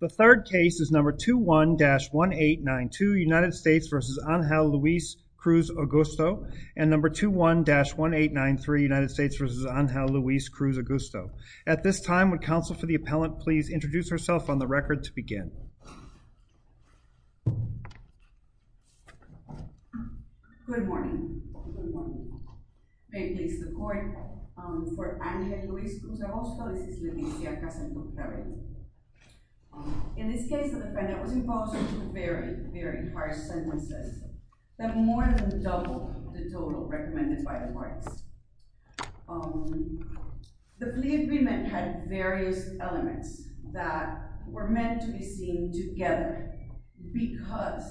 The third case is number 21-1892, United States v. Angel Luis Cruz-Agosto and number 21-1893, United States v. Angel Luis Cruz-Agosto. At this time, would counsel for the appellant please introduce herself on the record to begin. Good morning. May it please the court. I'm here for Angel Luis Cruz-Agosto. This is Leticia Casandú-Ferry. In this case, the defendant was imposed two very, very harsh sentences that more than doubled the total recommended by the courts. The plea agreement had various elements that were meant to be seen together because,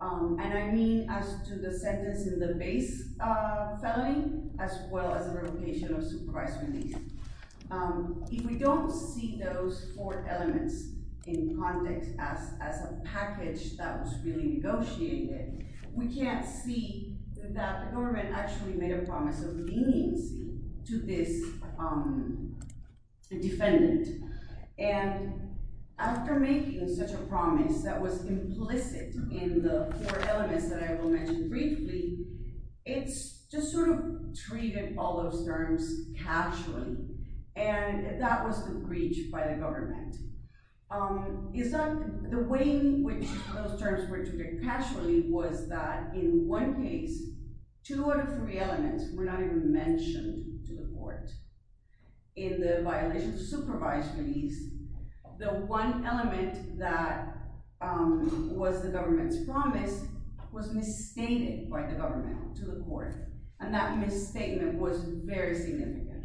and I mean as to the sentence in the base felony, as well as the revocation of supervised release. If we don't see those four elements in context as a package that was really negotiated, we can't see that the government actually made a promise of leniency to this defendant. And after making such a promise that was implicit in the four elements that I will mention briefly, it's just sort of treated all those terms casually, and that was the breach by the government. The way in which those terms were treated casually was that in one case, two out of three elements were not even mentioned to the court in the violation of supervised release. The one element that was the government's promise was misstated by the government to the court, and that misstatement was very significant.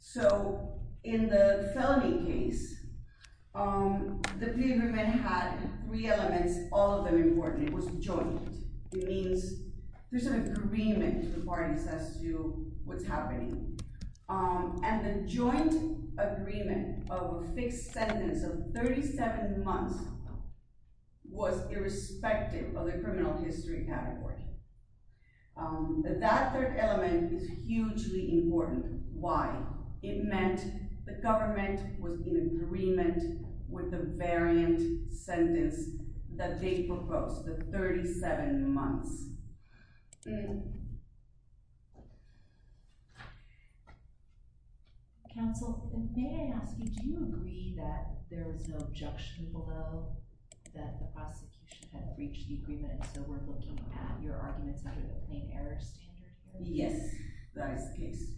So in the felony case, the plea agreement had three elements, all of them important. It was joint. It means there's an agreement to the parties as to what's happening. And the joint agreement of a fixed sentence of 37 months was irrespective of the criminal history category. But that third element is hugely important. Why? It meant the government was in agreement with the variant sentence that they proposed, the 37 months. Counsel, may I ask you, do you agree that there was no objection below that the prosecution had breached the agreement? So we're looking at your arguments under the plain error standard? Yes, that is the case.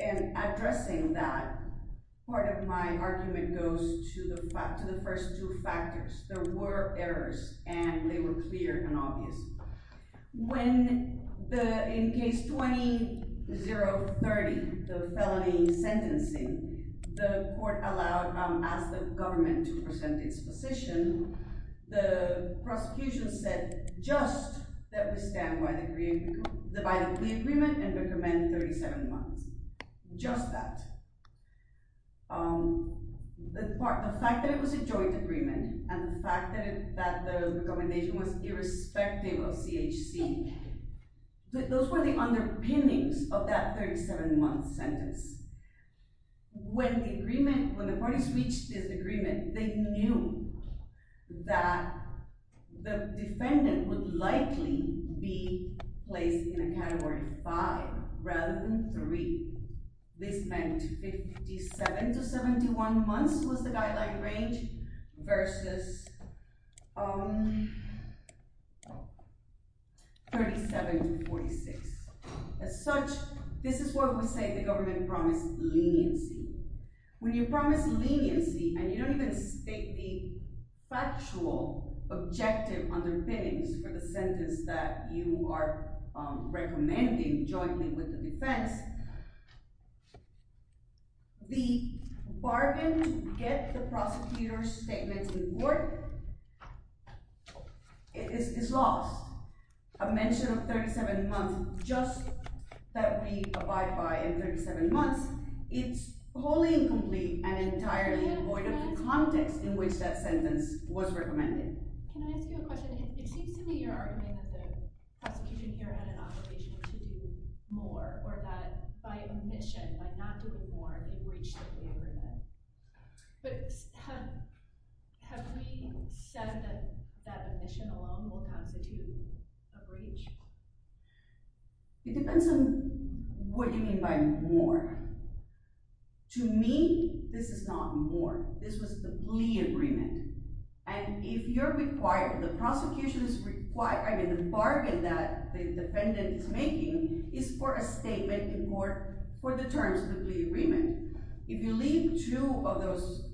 And addressing that, part of my argument goes to the first two factors. There were errors, and they were clear and obvious. In case 20-0-30, the felony sentencing, the court asked the government to present its position. The prosecution said just that we stand by the violent plea agreement and recommend 37 months. Just that. The fact that it was a joint agreement and the fact that the recommendation was irrespective of CHC, those were the underpinnings of that 37-month sentence. When the parties reached this agreement, they knew that the defendant would likely be placed in a category 5 rather than 3. This meant 57-71 months was the guideline range versus 37-46. As such, this is why we say the government promised leniency. When you promise leniency and you don't even state the factual objective underpinnings for the sentence that you are recommending jointly with the defense, the bargain to get the prosecutor's statement in court is lost. A mention of 37 months, just that we abide by in 37 months, it's wholly incomplete and entirely void of the context in which that sentence was recommended. Can I ask you a question? It seems to me you're arguing that the prosecution here had an obligation to do more, or that by omission, by not doing more, they breached the plea agreement. But have we said that omission alone will constitute a breach? It depends on what you mean by more. To me, this is not more. This was the plea agreement. And if you're required, the prosecution's required – I mean the bargain that the defendant is making is for a statement in court for the terms of the plea agreement. If you leave two of those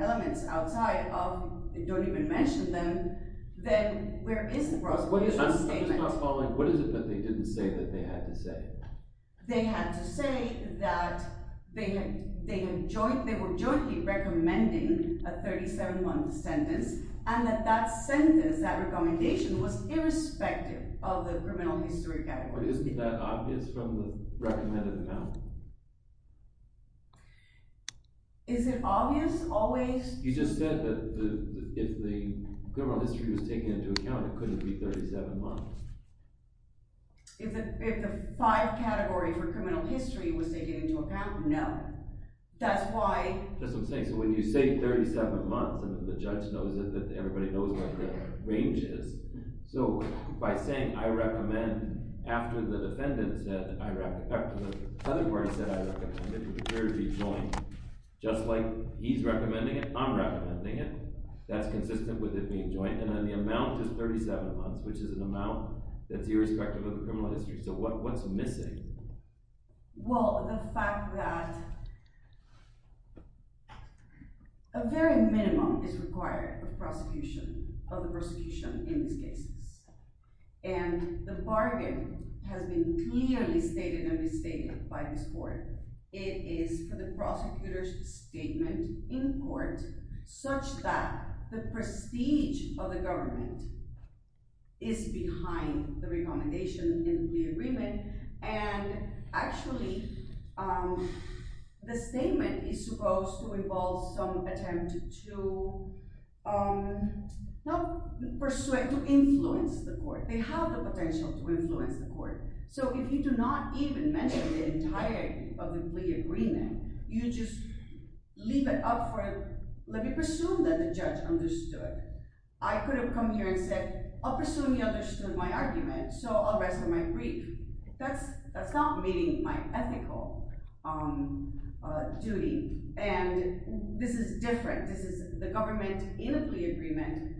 elements outside of – don't even mention them, then where is the prosecution's statement? I'm just not following. What is it that they didn't say that they had to say? They had to say that they were jointly recommending a 37-month sentence, and that that sentence, that recommendation, was irrespective of the criminal history category. But isn't that obvious from the recommended amount? Is it obvious always? You just said that if the criminal history was taken into account, it couldn't be 37 months. If the five categories were criminal history, was they taken into account? No. That's why – That's what I'm saying. So when you say 37 months, and the judge knows it, everybody knows what the range is. So by saying I recommend after the defendant said – after the category said I recommend the jury be joined, just like he's recommending it, I'm recommending it. That's consistent with it being joint. And then the amount is 37 months, which is an amount that's irrespective of the criminal history. So what's missing? Well, the fact that a very minimum is required of the prosecution in these cases. And the bargain has been clearly stated and restated by this court. It is for the prosecutor's statement in court such that the prestige of the government is behind the recommendation and the agreement. And actually, the statement is supposed to involve some attempt to – not persuade, to influence the court. They have the potential to influence the court. So if you do not even mention the entirety of the plea agreement, you just leave it up for – let me presume that the judge understood. I could have come here and said, I'll presume you understood my argument, so I'll rest on my grief. That's not meeting my ethical duty. And this is different. This is the government in a plea agreement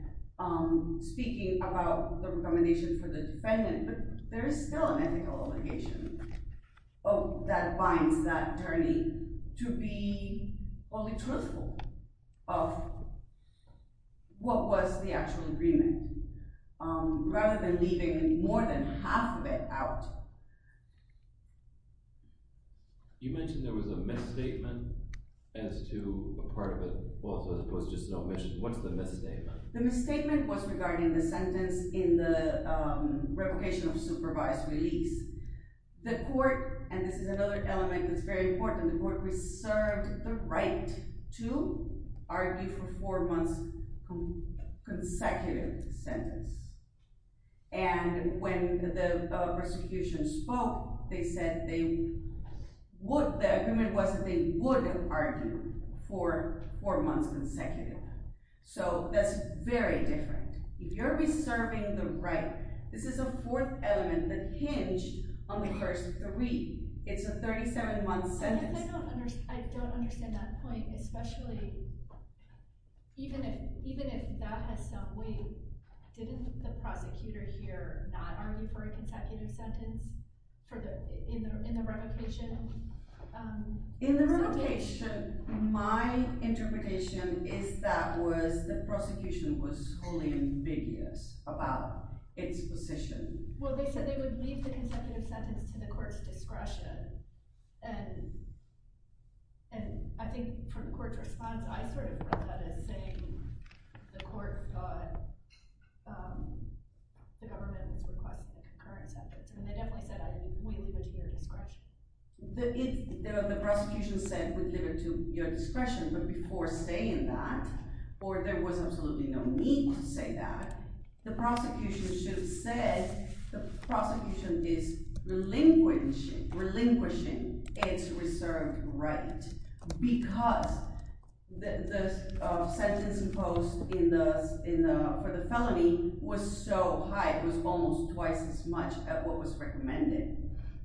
speaking about the recommendation for the defendant, but there is still an ethical obligation that binds that attorney to be fully truthful of what was the actual agreement rather than leaving more than half of it out. You mentioned there was a misstatement as to a part of it, as opposed to just an omission. What's the misstatement? The misstatement was regarding the sentence in the revocation of supervised release. The court – and this is another element that's very important – the court reserved the right to argue for four months consecutive sentence. And when the prosecution spoke, they said they would – the agreement was that they would argue for four months consecutive. So that's very different. If you're reserving the right – this is a fourth element that hinged on the first three. It's a 37-month sentence. I don't understand that point, especially even if that has some weight. Didn't the prosecutor here not argue for a consecutive sentence in the revocation? In the revocation, my interpretation is that was the prosecution was wholly ambiguous about its position. Well, they said they would leave the consecutive sentence to the court's discretion. And I think from the court's response, I sort of read that as saying the court thought the government was requesting a concurrent sentence. And they definitely said, we leave it to your discretion. The prosecution said, we leave it to your discretion. But before saying that, or there was absolutely no need to say that, the prosecution should have said the prosecution is relinquishing its reserved right because the sentence imposed for the felony was so high. It was almost twice as much as what was recommended.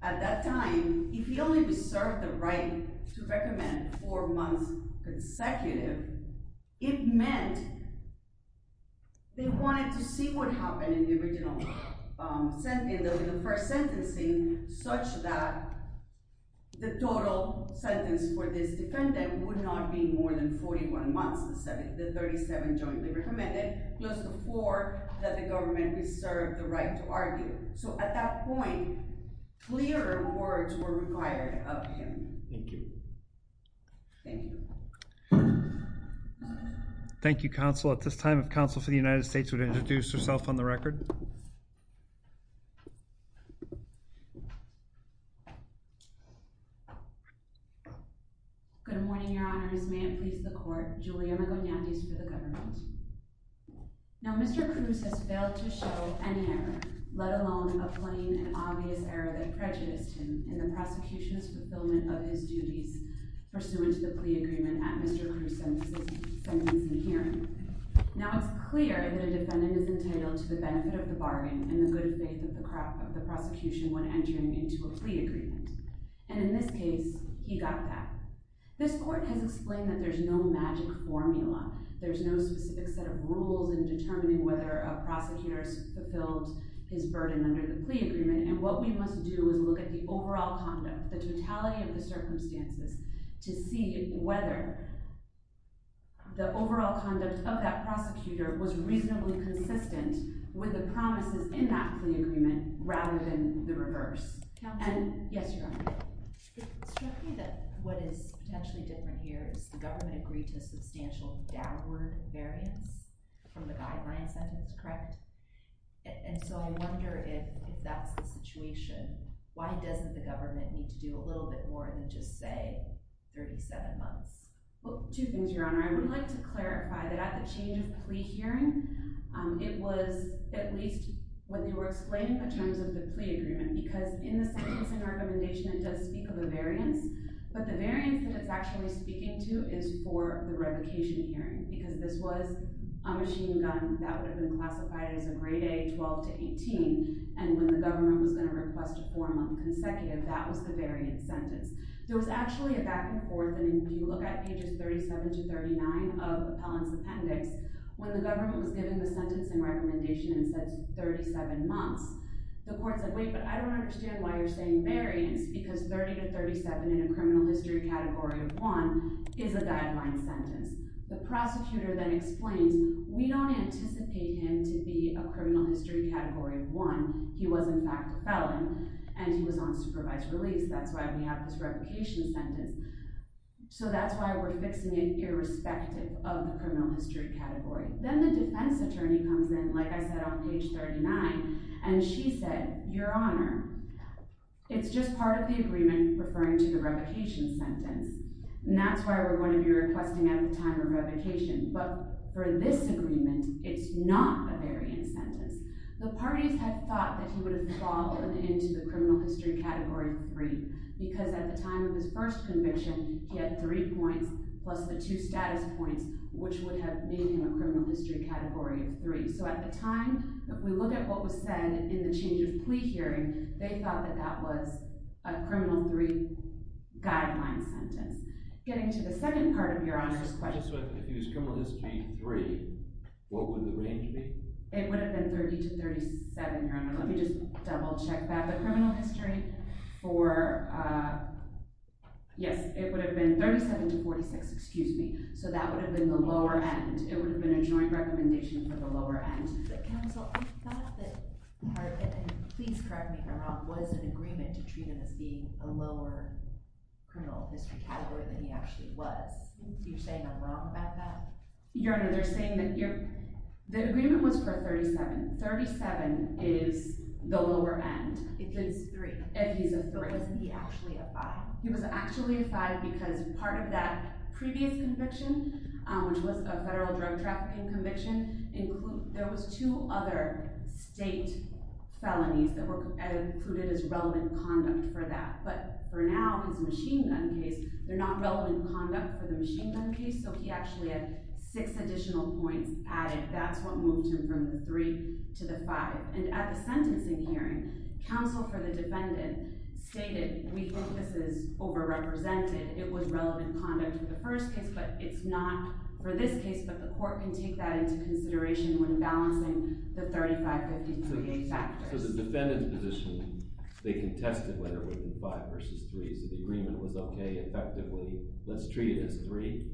At that time, if he only reserved the right to recommend four months consecutive, it meant they wanted to see what happened in the first sentencing such that the total sentence for this defendant would not be more than 41 months, the 37 jointly recommended, close to four, that the government reserved the right to argue. So at that point, clear words were required of him. Thank you. Thank you. Thank you, counsel. At this time, if counsel for the United States would introduce herself on the record. Good morning, Your Honor. This may have pleased the court. Now, Mr. Cruz has failed to show any error, let alone a plain and obvious error that prejudiced him in the prosecution's fulfillment of his duties pursuant to the plea agreement at Mr. Cruz's sentencing hearing. Now, it's clear that a defendant is entitled to the benefit of the bargain in the good faith of the prosecution when entering into a plea agreement. And in this case, he got that. This court has explained that there's no magic formula. There's no specific set of rules in determining whether a prosecutor has fulfilled his burden under the plea agreement. And what we must do is look at the overall conduct, the totality of the circumstances, to see whether the overall conduct of that prosecutor was reasonably consistent with the promises in that plea agreement rather than the reverse. Counsel? Yes, Your Honor. It struck me that what is potentially different here is the government agreed to a substantial downward variance from the guideline sentence, correct? And so I wonder if that's the situation, why doesn't the government need to do a little bit more than just say 37 months? Well, two things, Your Honor. I would like to clarify that at the change of plea hearing, it was at least when they were explaining the terms of the plea agreement. Because in the sentencing recommendation, it does speak of a variance. But the variance that it's actually speaking to is for the revocation hearing. Because this was a machine gun that would have been classified as a grade A, 12 to 18. And when the government was going to request a four-month consecutive, that was the variance sentence. There was actually a back and forth. And if you look at pages 37 to 39 of the felon's appendix, when the government was giving the sentencing recommendation and said 37 months, the court said, wait, but I don't understand why you're saying variance. Because 30 to 37 in a criminal history category of one is a guideline sentence. The prosecutor then explains, we don't anticipate him to be a criminal history category of one. He was, in fact, a felon. And he was on supervised release. That's why we have this revocation sentence. So that's why we're fixing it irrespective of the criminal history category. Then the defense attorney comes in, like I said, on page 39. And she said, your honor, it's just part of the agreement referring to the revocation sentence. And that's why we're going to be requesting at the time of revocation. But for this agreement, it's not the variance sentence. The parties had thought that he would have fallen into the criminal history category of three. Because at the time of his first conviction, he had three points plus the two status points, which would have made him a criminal history category of three. So at the time, if we look at what was said in the change of plea hearing, they thought that that was a criminal three guideline sentence. Getting to the second part of your honor's question. If he was criminal history three, what would the range be? It would have been 30 to 37, your honor. Let me just double check that. The criminal history for, yes, it would have been 37 to 46. Excuse me. So that would have been the lower end. It would have been a joint recommendation for the lower end. But counsel, we thought that, please correct me if I'm wrong, was an agreement to treat him as being a lower criminal history category than he actually was. You're saying I'm wrong about that? Your honor, they're saying that the agreement was for 37. 37 is the lower end. If he's three. If he's a three. Is he actually a five? He was actually a five because part of that previous conviction, which was a federal drug trafficking conviction, there was two other state felonies that were included as relevant conduct for that. But for now, his machine gun case, they're not relevant conduct for the machine gun case. So he actually had six additional points added. That's what moved him from the three to the five. And at the sentencing hearing, counsel for the defendant stated, we think this is over-represented. It was relevant conduct for the first case. But it's not for this case. But the court can take that into consideration when balancing the 35-53 factors. So the defendant's position, they contested whether it would have been five versus three. So the agreement was, OK, effectively, let's treat it as three.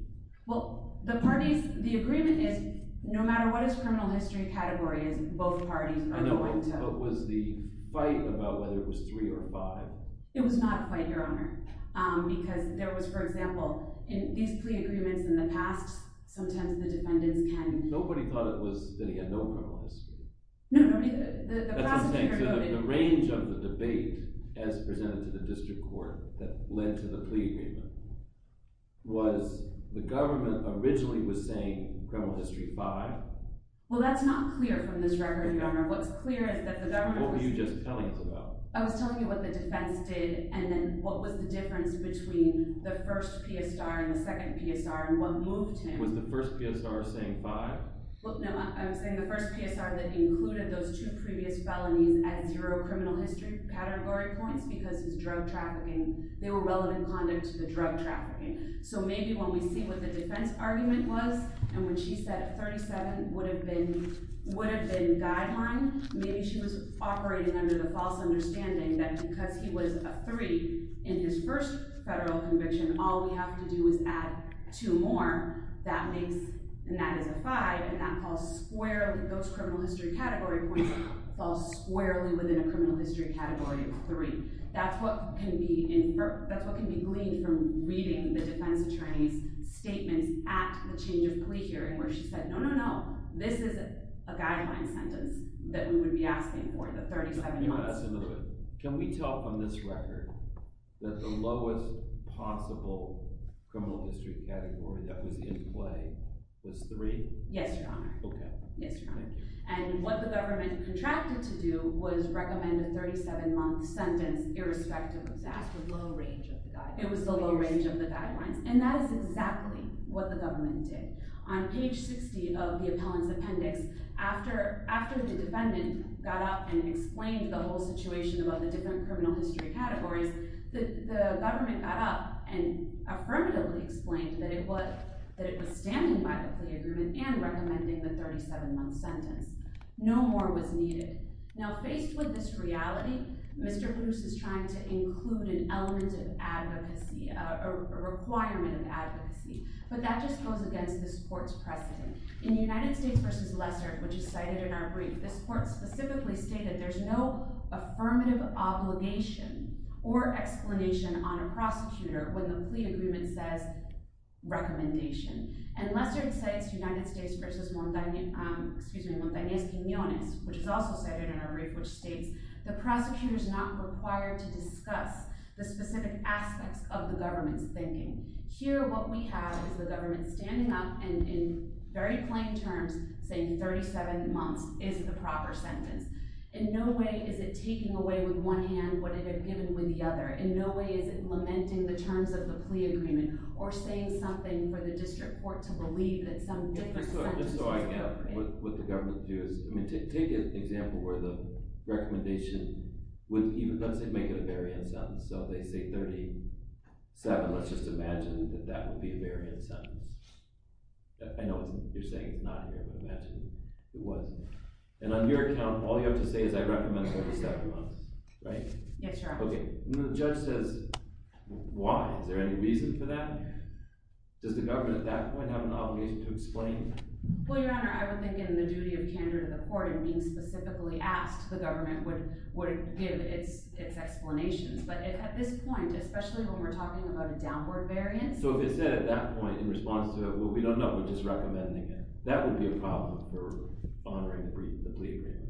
Well, the parties, the agreement is, no matter what his criminal history category is, both parties are going to. I know. But was the fight about whether it was three or five? It was not a fight, Your Honor. Because there was, for example, in these plea agreements in the past, sometimes the defendants can. Nobody thought it was that he had no criminal history. No. The prosecutor voted. The range of the debate as presented to the district court that led to the plea agreement, was the government originally was saying criminal history five? Well, that's not clear from this record, Your Honor. What's clear is that the government was. What were you just telling us about? I was telling you what the defense did and then what was the difference between the first PSR and the second PSR and what moved him. Was the first PSR saying five? Look, no. I'm saying the first PSR that included those two previous felonies at zero criminal history category points because his drug trafficking. They were relevant conduct to the drug trafficking. So maybe when we see what the defense argument was and when she said 37 would have been guideline, maybe she was operating under the false understanding that because he was a three in his first federal conviction, all we have to do is add two more. And that is a five. And that falls squarely. Those criminal history category points fall squarely within a criminal history category of three. That's what can be inferred. That's what can be gleaned from reading the defense attorney's statements at the change of plea hearing where she said, no, no, no, this is a guideline sentence that we would be asking for the 37 months. Can we tell from this record that the lowest possible criminal history category that was in play was three? Yes, Your Honor. Okay. Yes, Your Honor. Thank you. And what the government contracted to do was recommend a 37-month sentence irrespective of that. It was the low range of the guidelines. It was the low range of the guidelines. And that is exactly what the government did. On page 60 of the appellant's appendix, after the defendant got up and explained the whole situation about the different criminal history categories, the government got up and affirmatively explained that it was standing by the plea agreement and recommending the 37-month sentence. No more was needed. Now, faced with this reality, Mr. Bruce is trying to include an element of advocacy, a requirement of advocacy. But that just goes against this court's precedent. In United States v. Lessard, which is cited in our brief, this court specifically stated there's no affirmative obligation or explanation on a prosecutor when the plea agreement says recommendation. And Lessard cites United States v. Montañez-Quiñones, which is also cited in our brief, which states the prosecutor's not required to discuss the specific aspects of the government's thinking. Here, what we have is the government standing up and, in very plain terms, saying 37 months is the proper sentence. In no way is it taking away with one hand what it had given with the other. In no way is it lamenting the terms of the plea agreement or saying something for the district court to believe that some different sentence was appropriate. Just so I get what the government views. I mean, take an example where the recommendation would even, let's say, make it a variant sentence. So they say 37, let's just imagine that that would be a variant sentence. I know you're saying it's not here, but imagine it was. And on your account, all you have to say is I recommend 37 months, right? Yes, Your Honor. Okay. And the judge says, why? Is there any reason for that? Does the government at that point have an obligation to explain? Well, Your Honor, I would think in the duty of candor to the court in being specifically asked, the government would give its explanations. But at this point, especially when we're talking about a downward variance— So if it said at that point in response to it, well, we don't know, we're just recommending it, that would be a problem for honoring the plea agreement.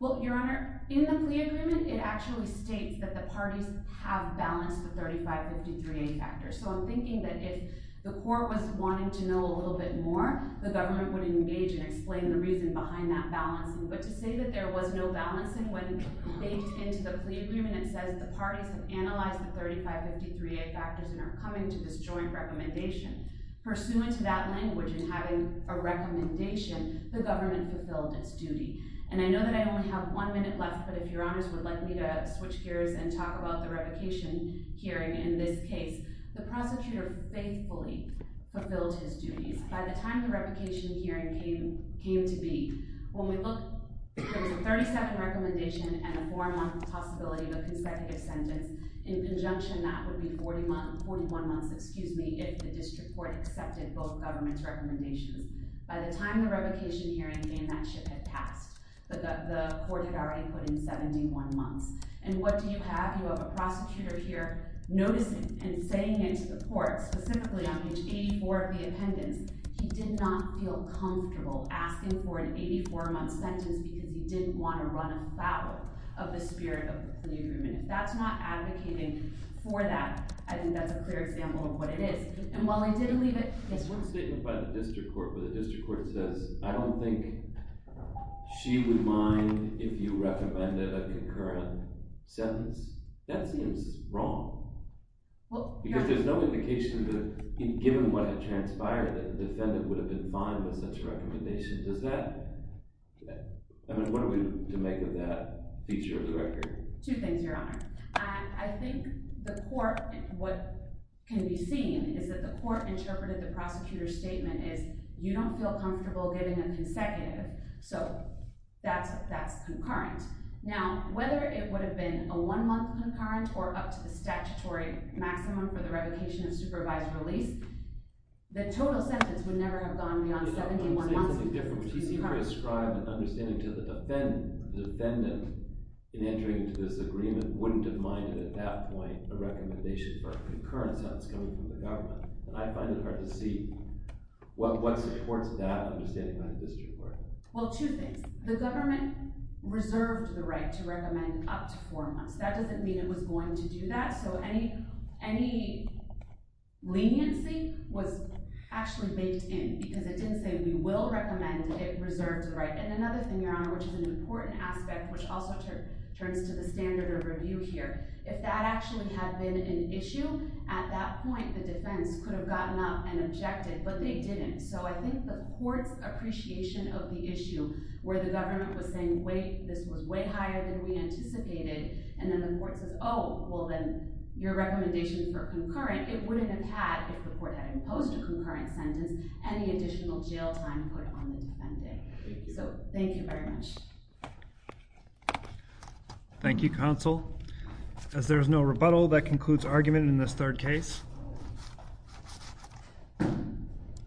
Well, Your Honor, in the plea agreement, it actually states that the parties have balanced the 3553A factor. So I'm thinking that if the court was wanting to know a little bit more, the government would engage and explain the reason behind that balancing. But to say that there was no balancing when baked into the plea agreement, it says the parties have analyzed the 3553A factors and are coming to this joint recommendation. Pursuant to that language and having a recommendation, the government fulfilled its duty. And I know that I only have one minute left, but if Your Honors would like me to switch gears and talk about the revocation hearing in this case. The prosecutor faithfully fulfilled his duties. By the time the revocation hearing came to be, when we look— There was a 30-second recommendation and a four-month possibility of a consecutive sentence. In conjunction, that would be 41 months if the district court accepted both governments' recommendations. By the time the revocation hearing came, that shift had passed. The court had already put in 71 months. And what do you have? You have a prosecutor here noticing and saying it to the court, specifically on page 84 of the appendix. He did not feel comfortable asking for an 84-month sentence because he didn't want to run afoul of the spirit of the plea agreement. If that's not advocating for that, I think that's a clear example of what it is. And while I did leave it— where the district court says, I don't think she would mind if you recommended a concurrent sentence, that seems wrong. Because there's no indication that, given what had transpired, that the defendant would have been fine with such a recommendation. Does that—I mean, what are we to make of that feature of the record? Two things, Your Honor. I think the court—what can be seen is that the court interpreted the prosecutor's statement as, you don't feel comfortable giving a consecutive, so that's concurrent. Now, whether it would have been a one-month concurrent or up to the statutory maximum for the revocation of supervised release, the total sentence would never have gone beyond 71 months. He seemed to ascribe an understanding to the defendant in entering into this agreement, wouldn't have minded at that point a recommendation for a concurrent sentence coming from the government. And I find it hard to see what supports that understanding by the district court. Well, two things. The government reserved the right to recommend up to four months. That doesn't mean it was going to do that. So any leniency was actually baked in, because it didn't say, we will recommend it reserved to the right. And another thing, Your Honor, which is an important aspect, which also turns to the standard of review here. If that actually had been an issue, at that point the defense could have gotten up and objected, but they didn't. So I think the court's appreciation of the issue, where the government was saying, wait, this was way higher than we anticipated, and then the court says, oh, well, then your recommendation for a concurrent, it wouldn't have had, if the court had imposed a concurrent sentence, any additional jail time put on the defendant. So thank you very much. Thank you, counsel. As there is no rebuttal, that concludes argument in this third case.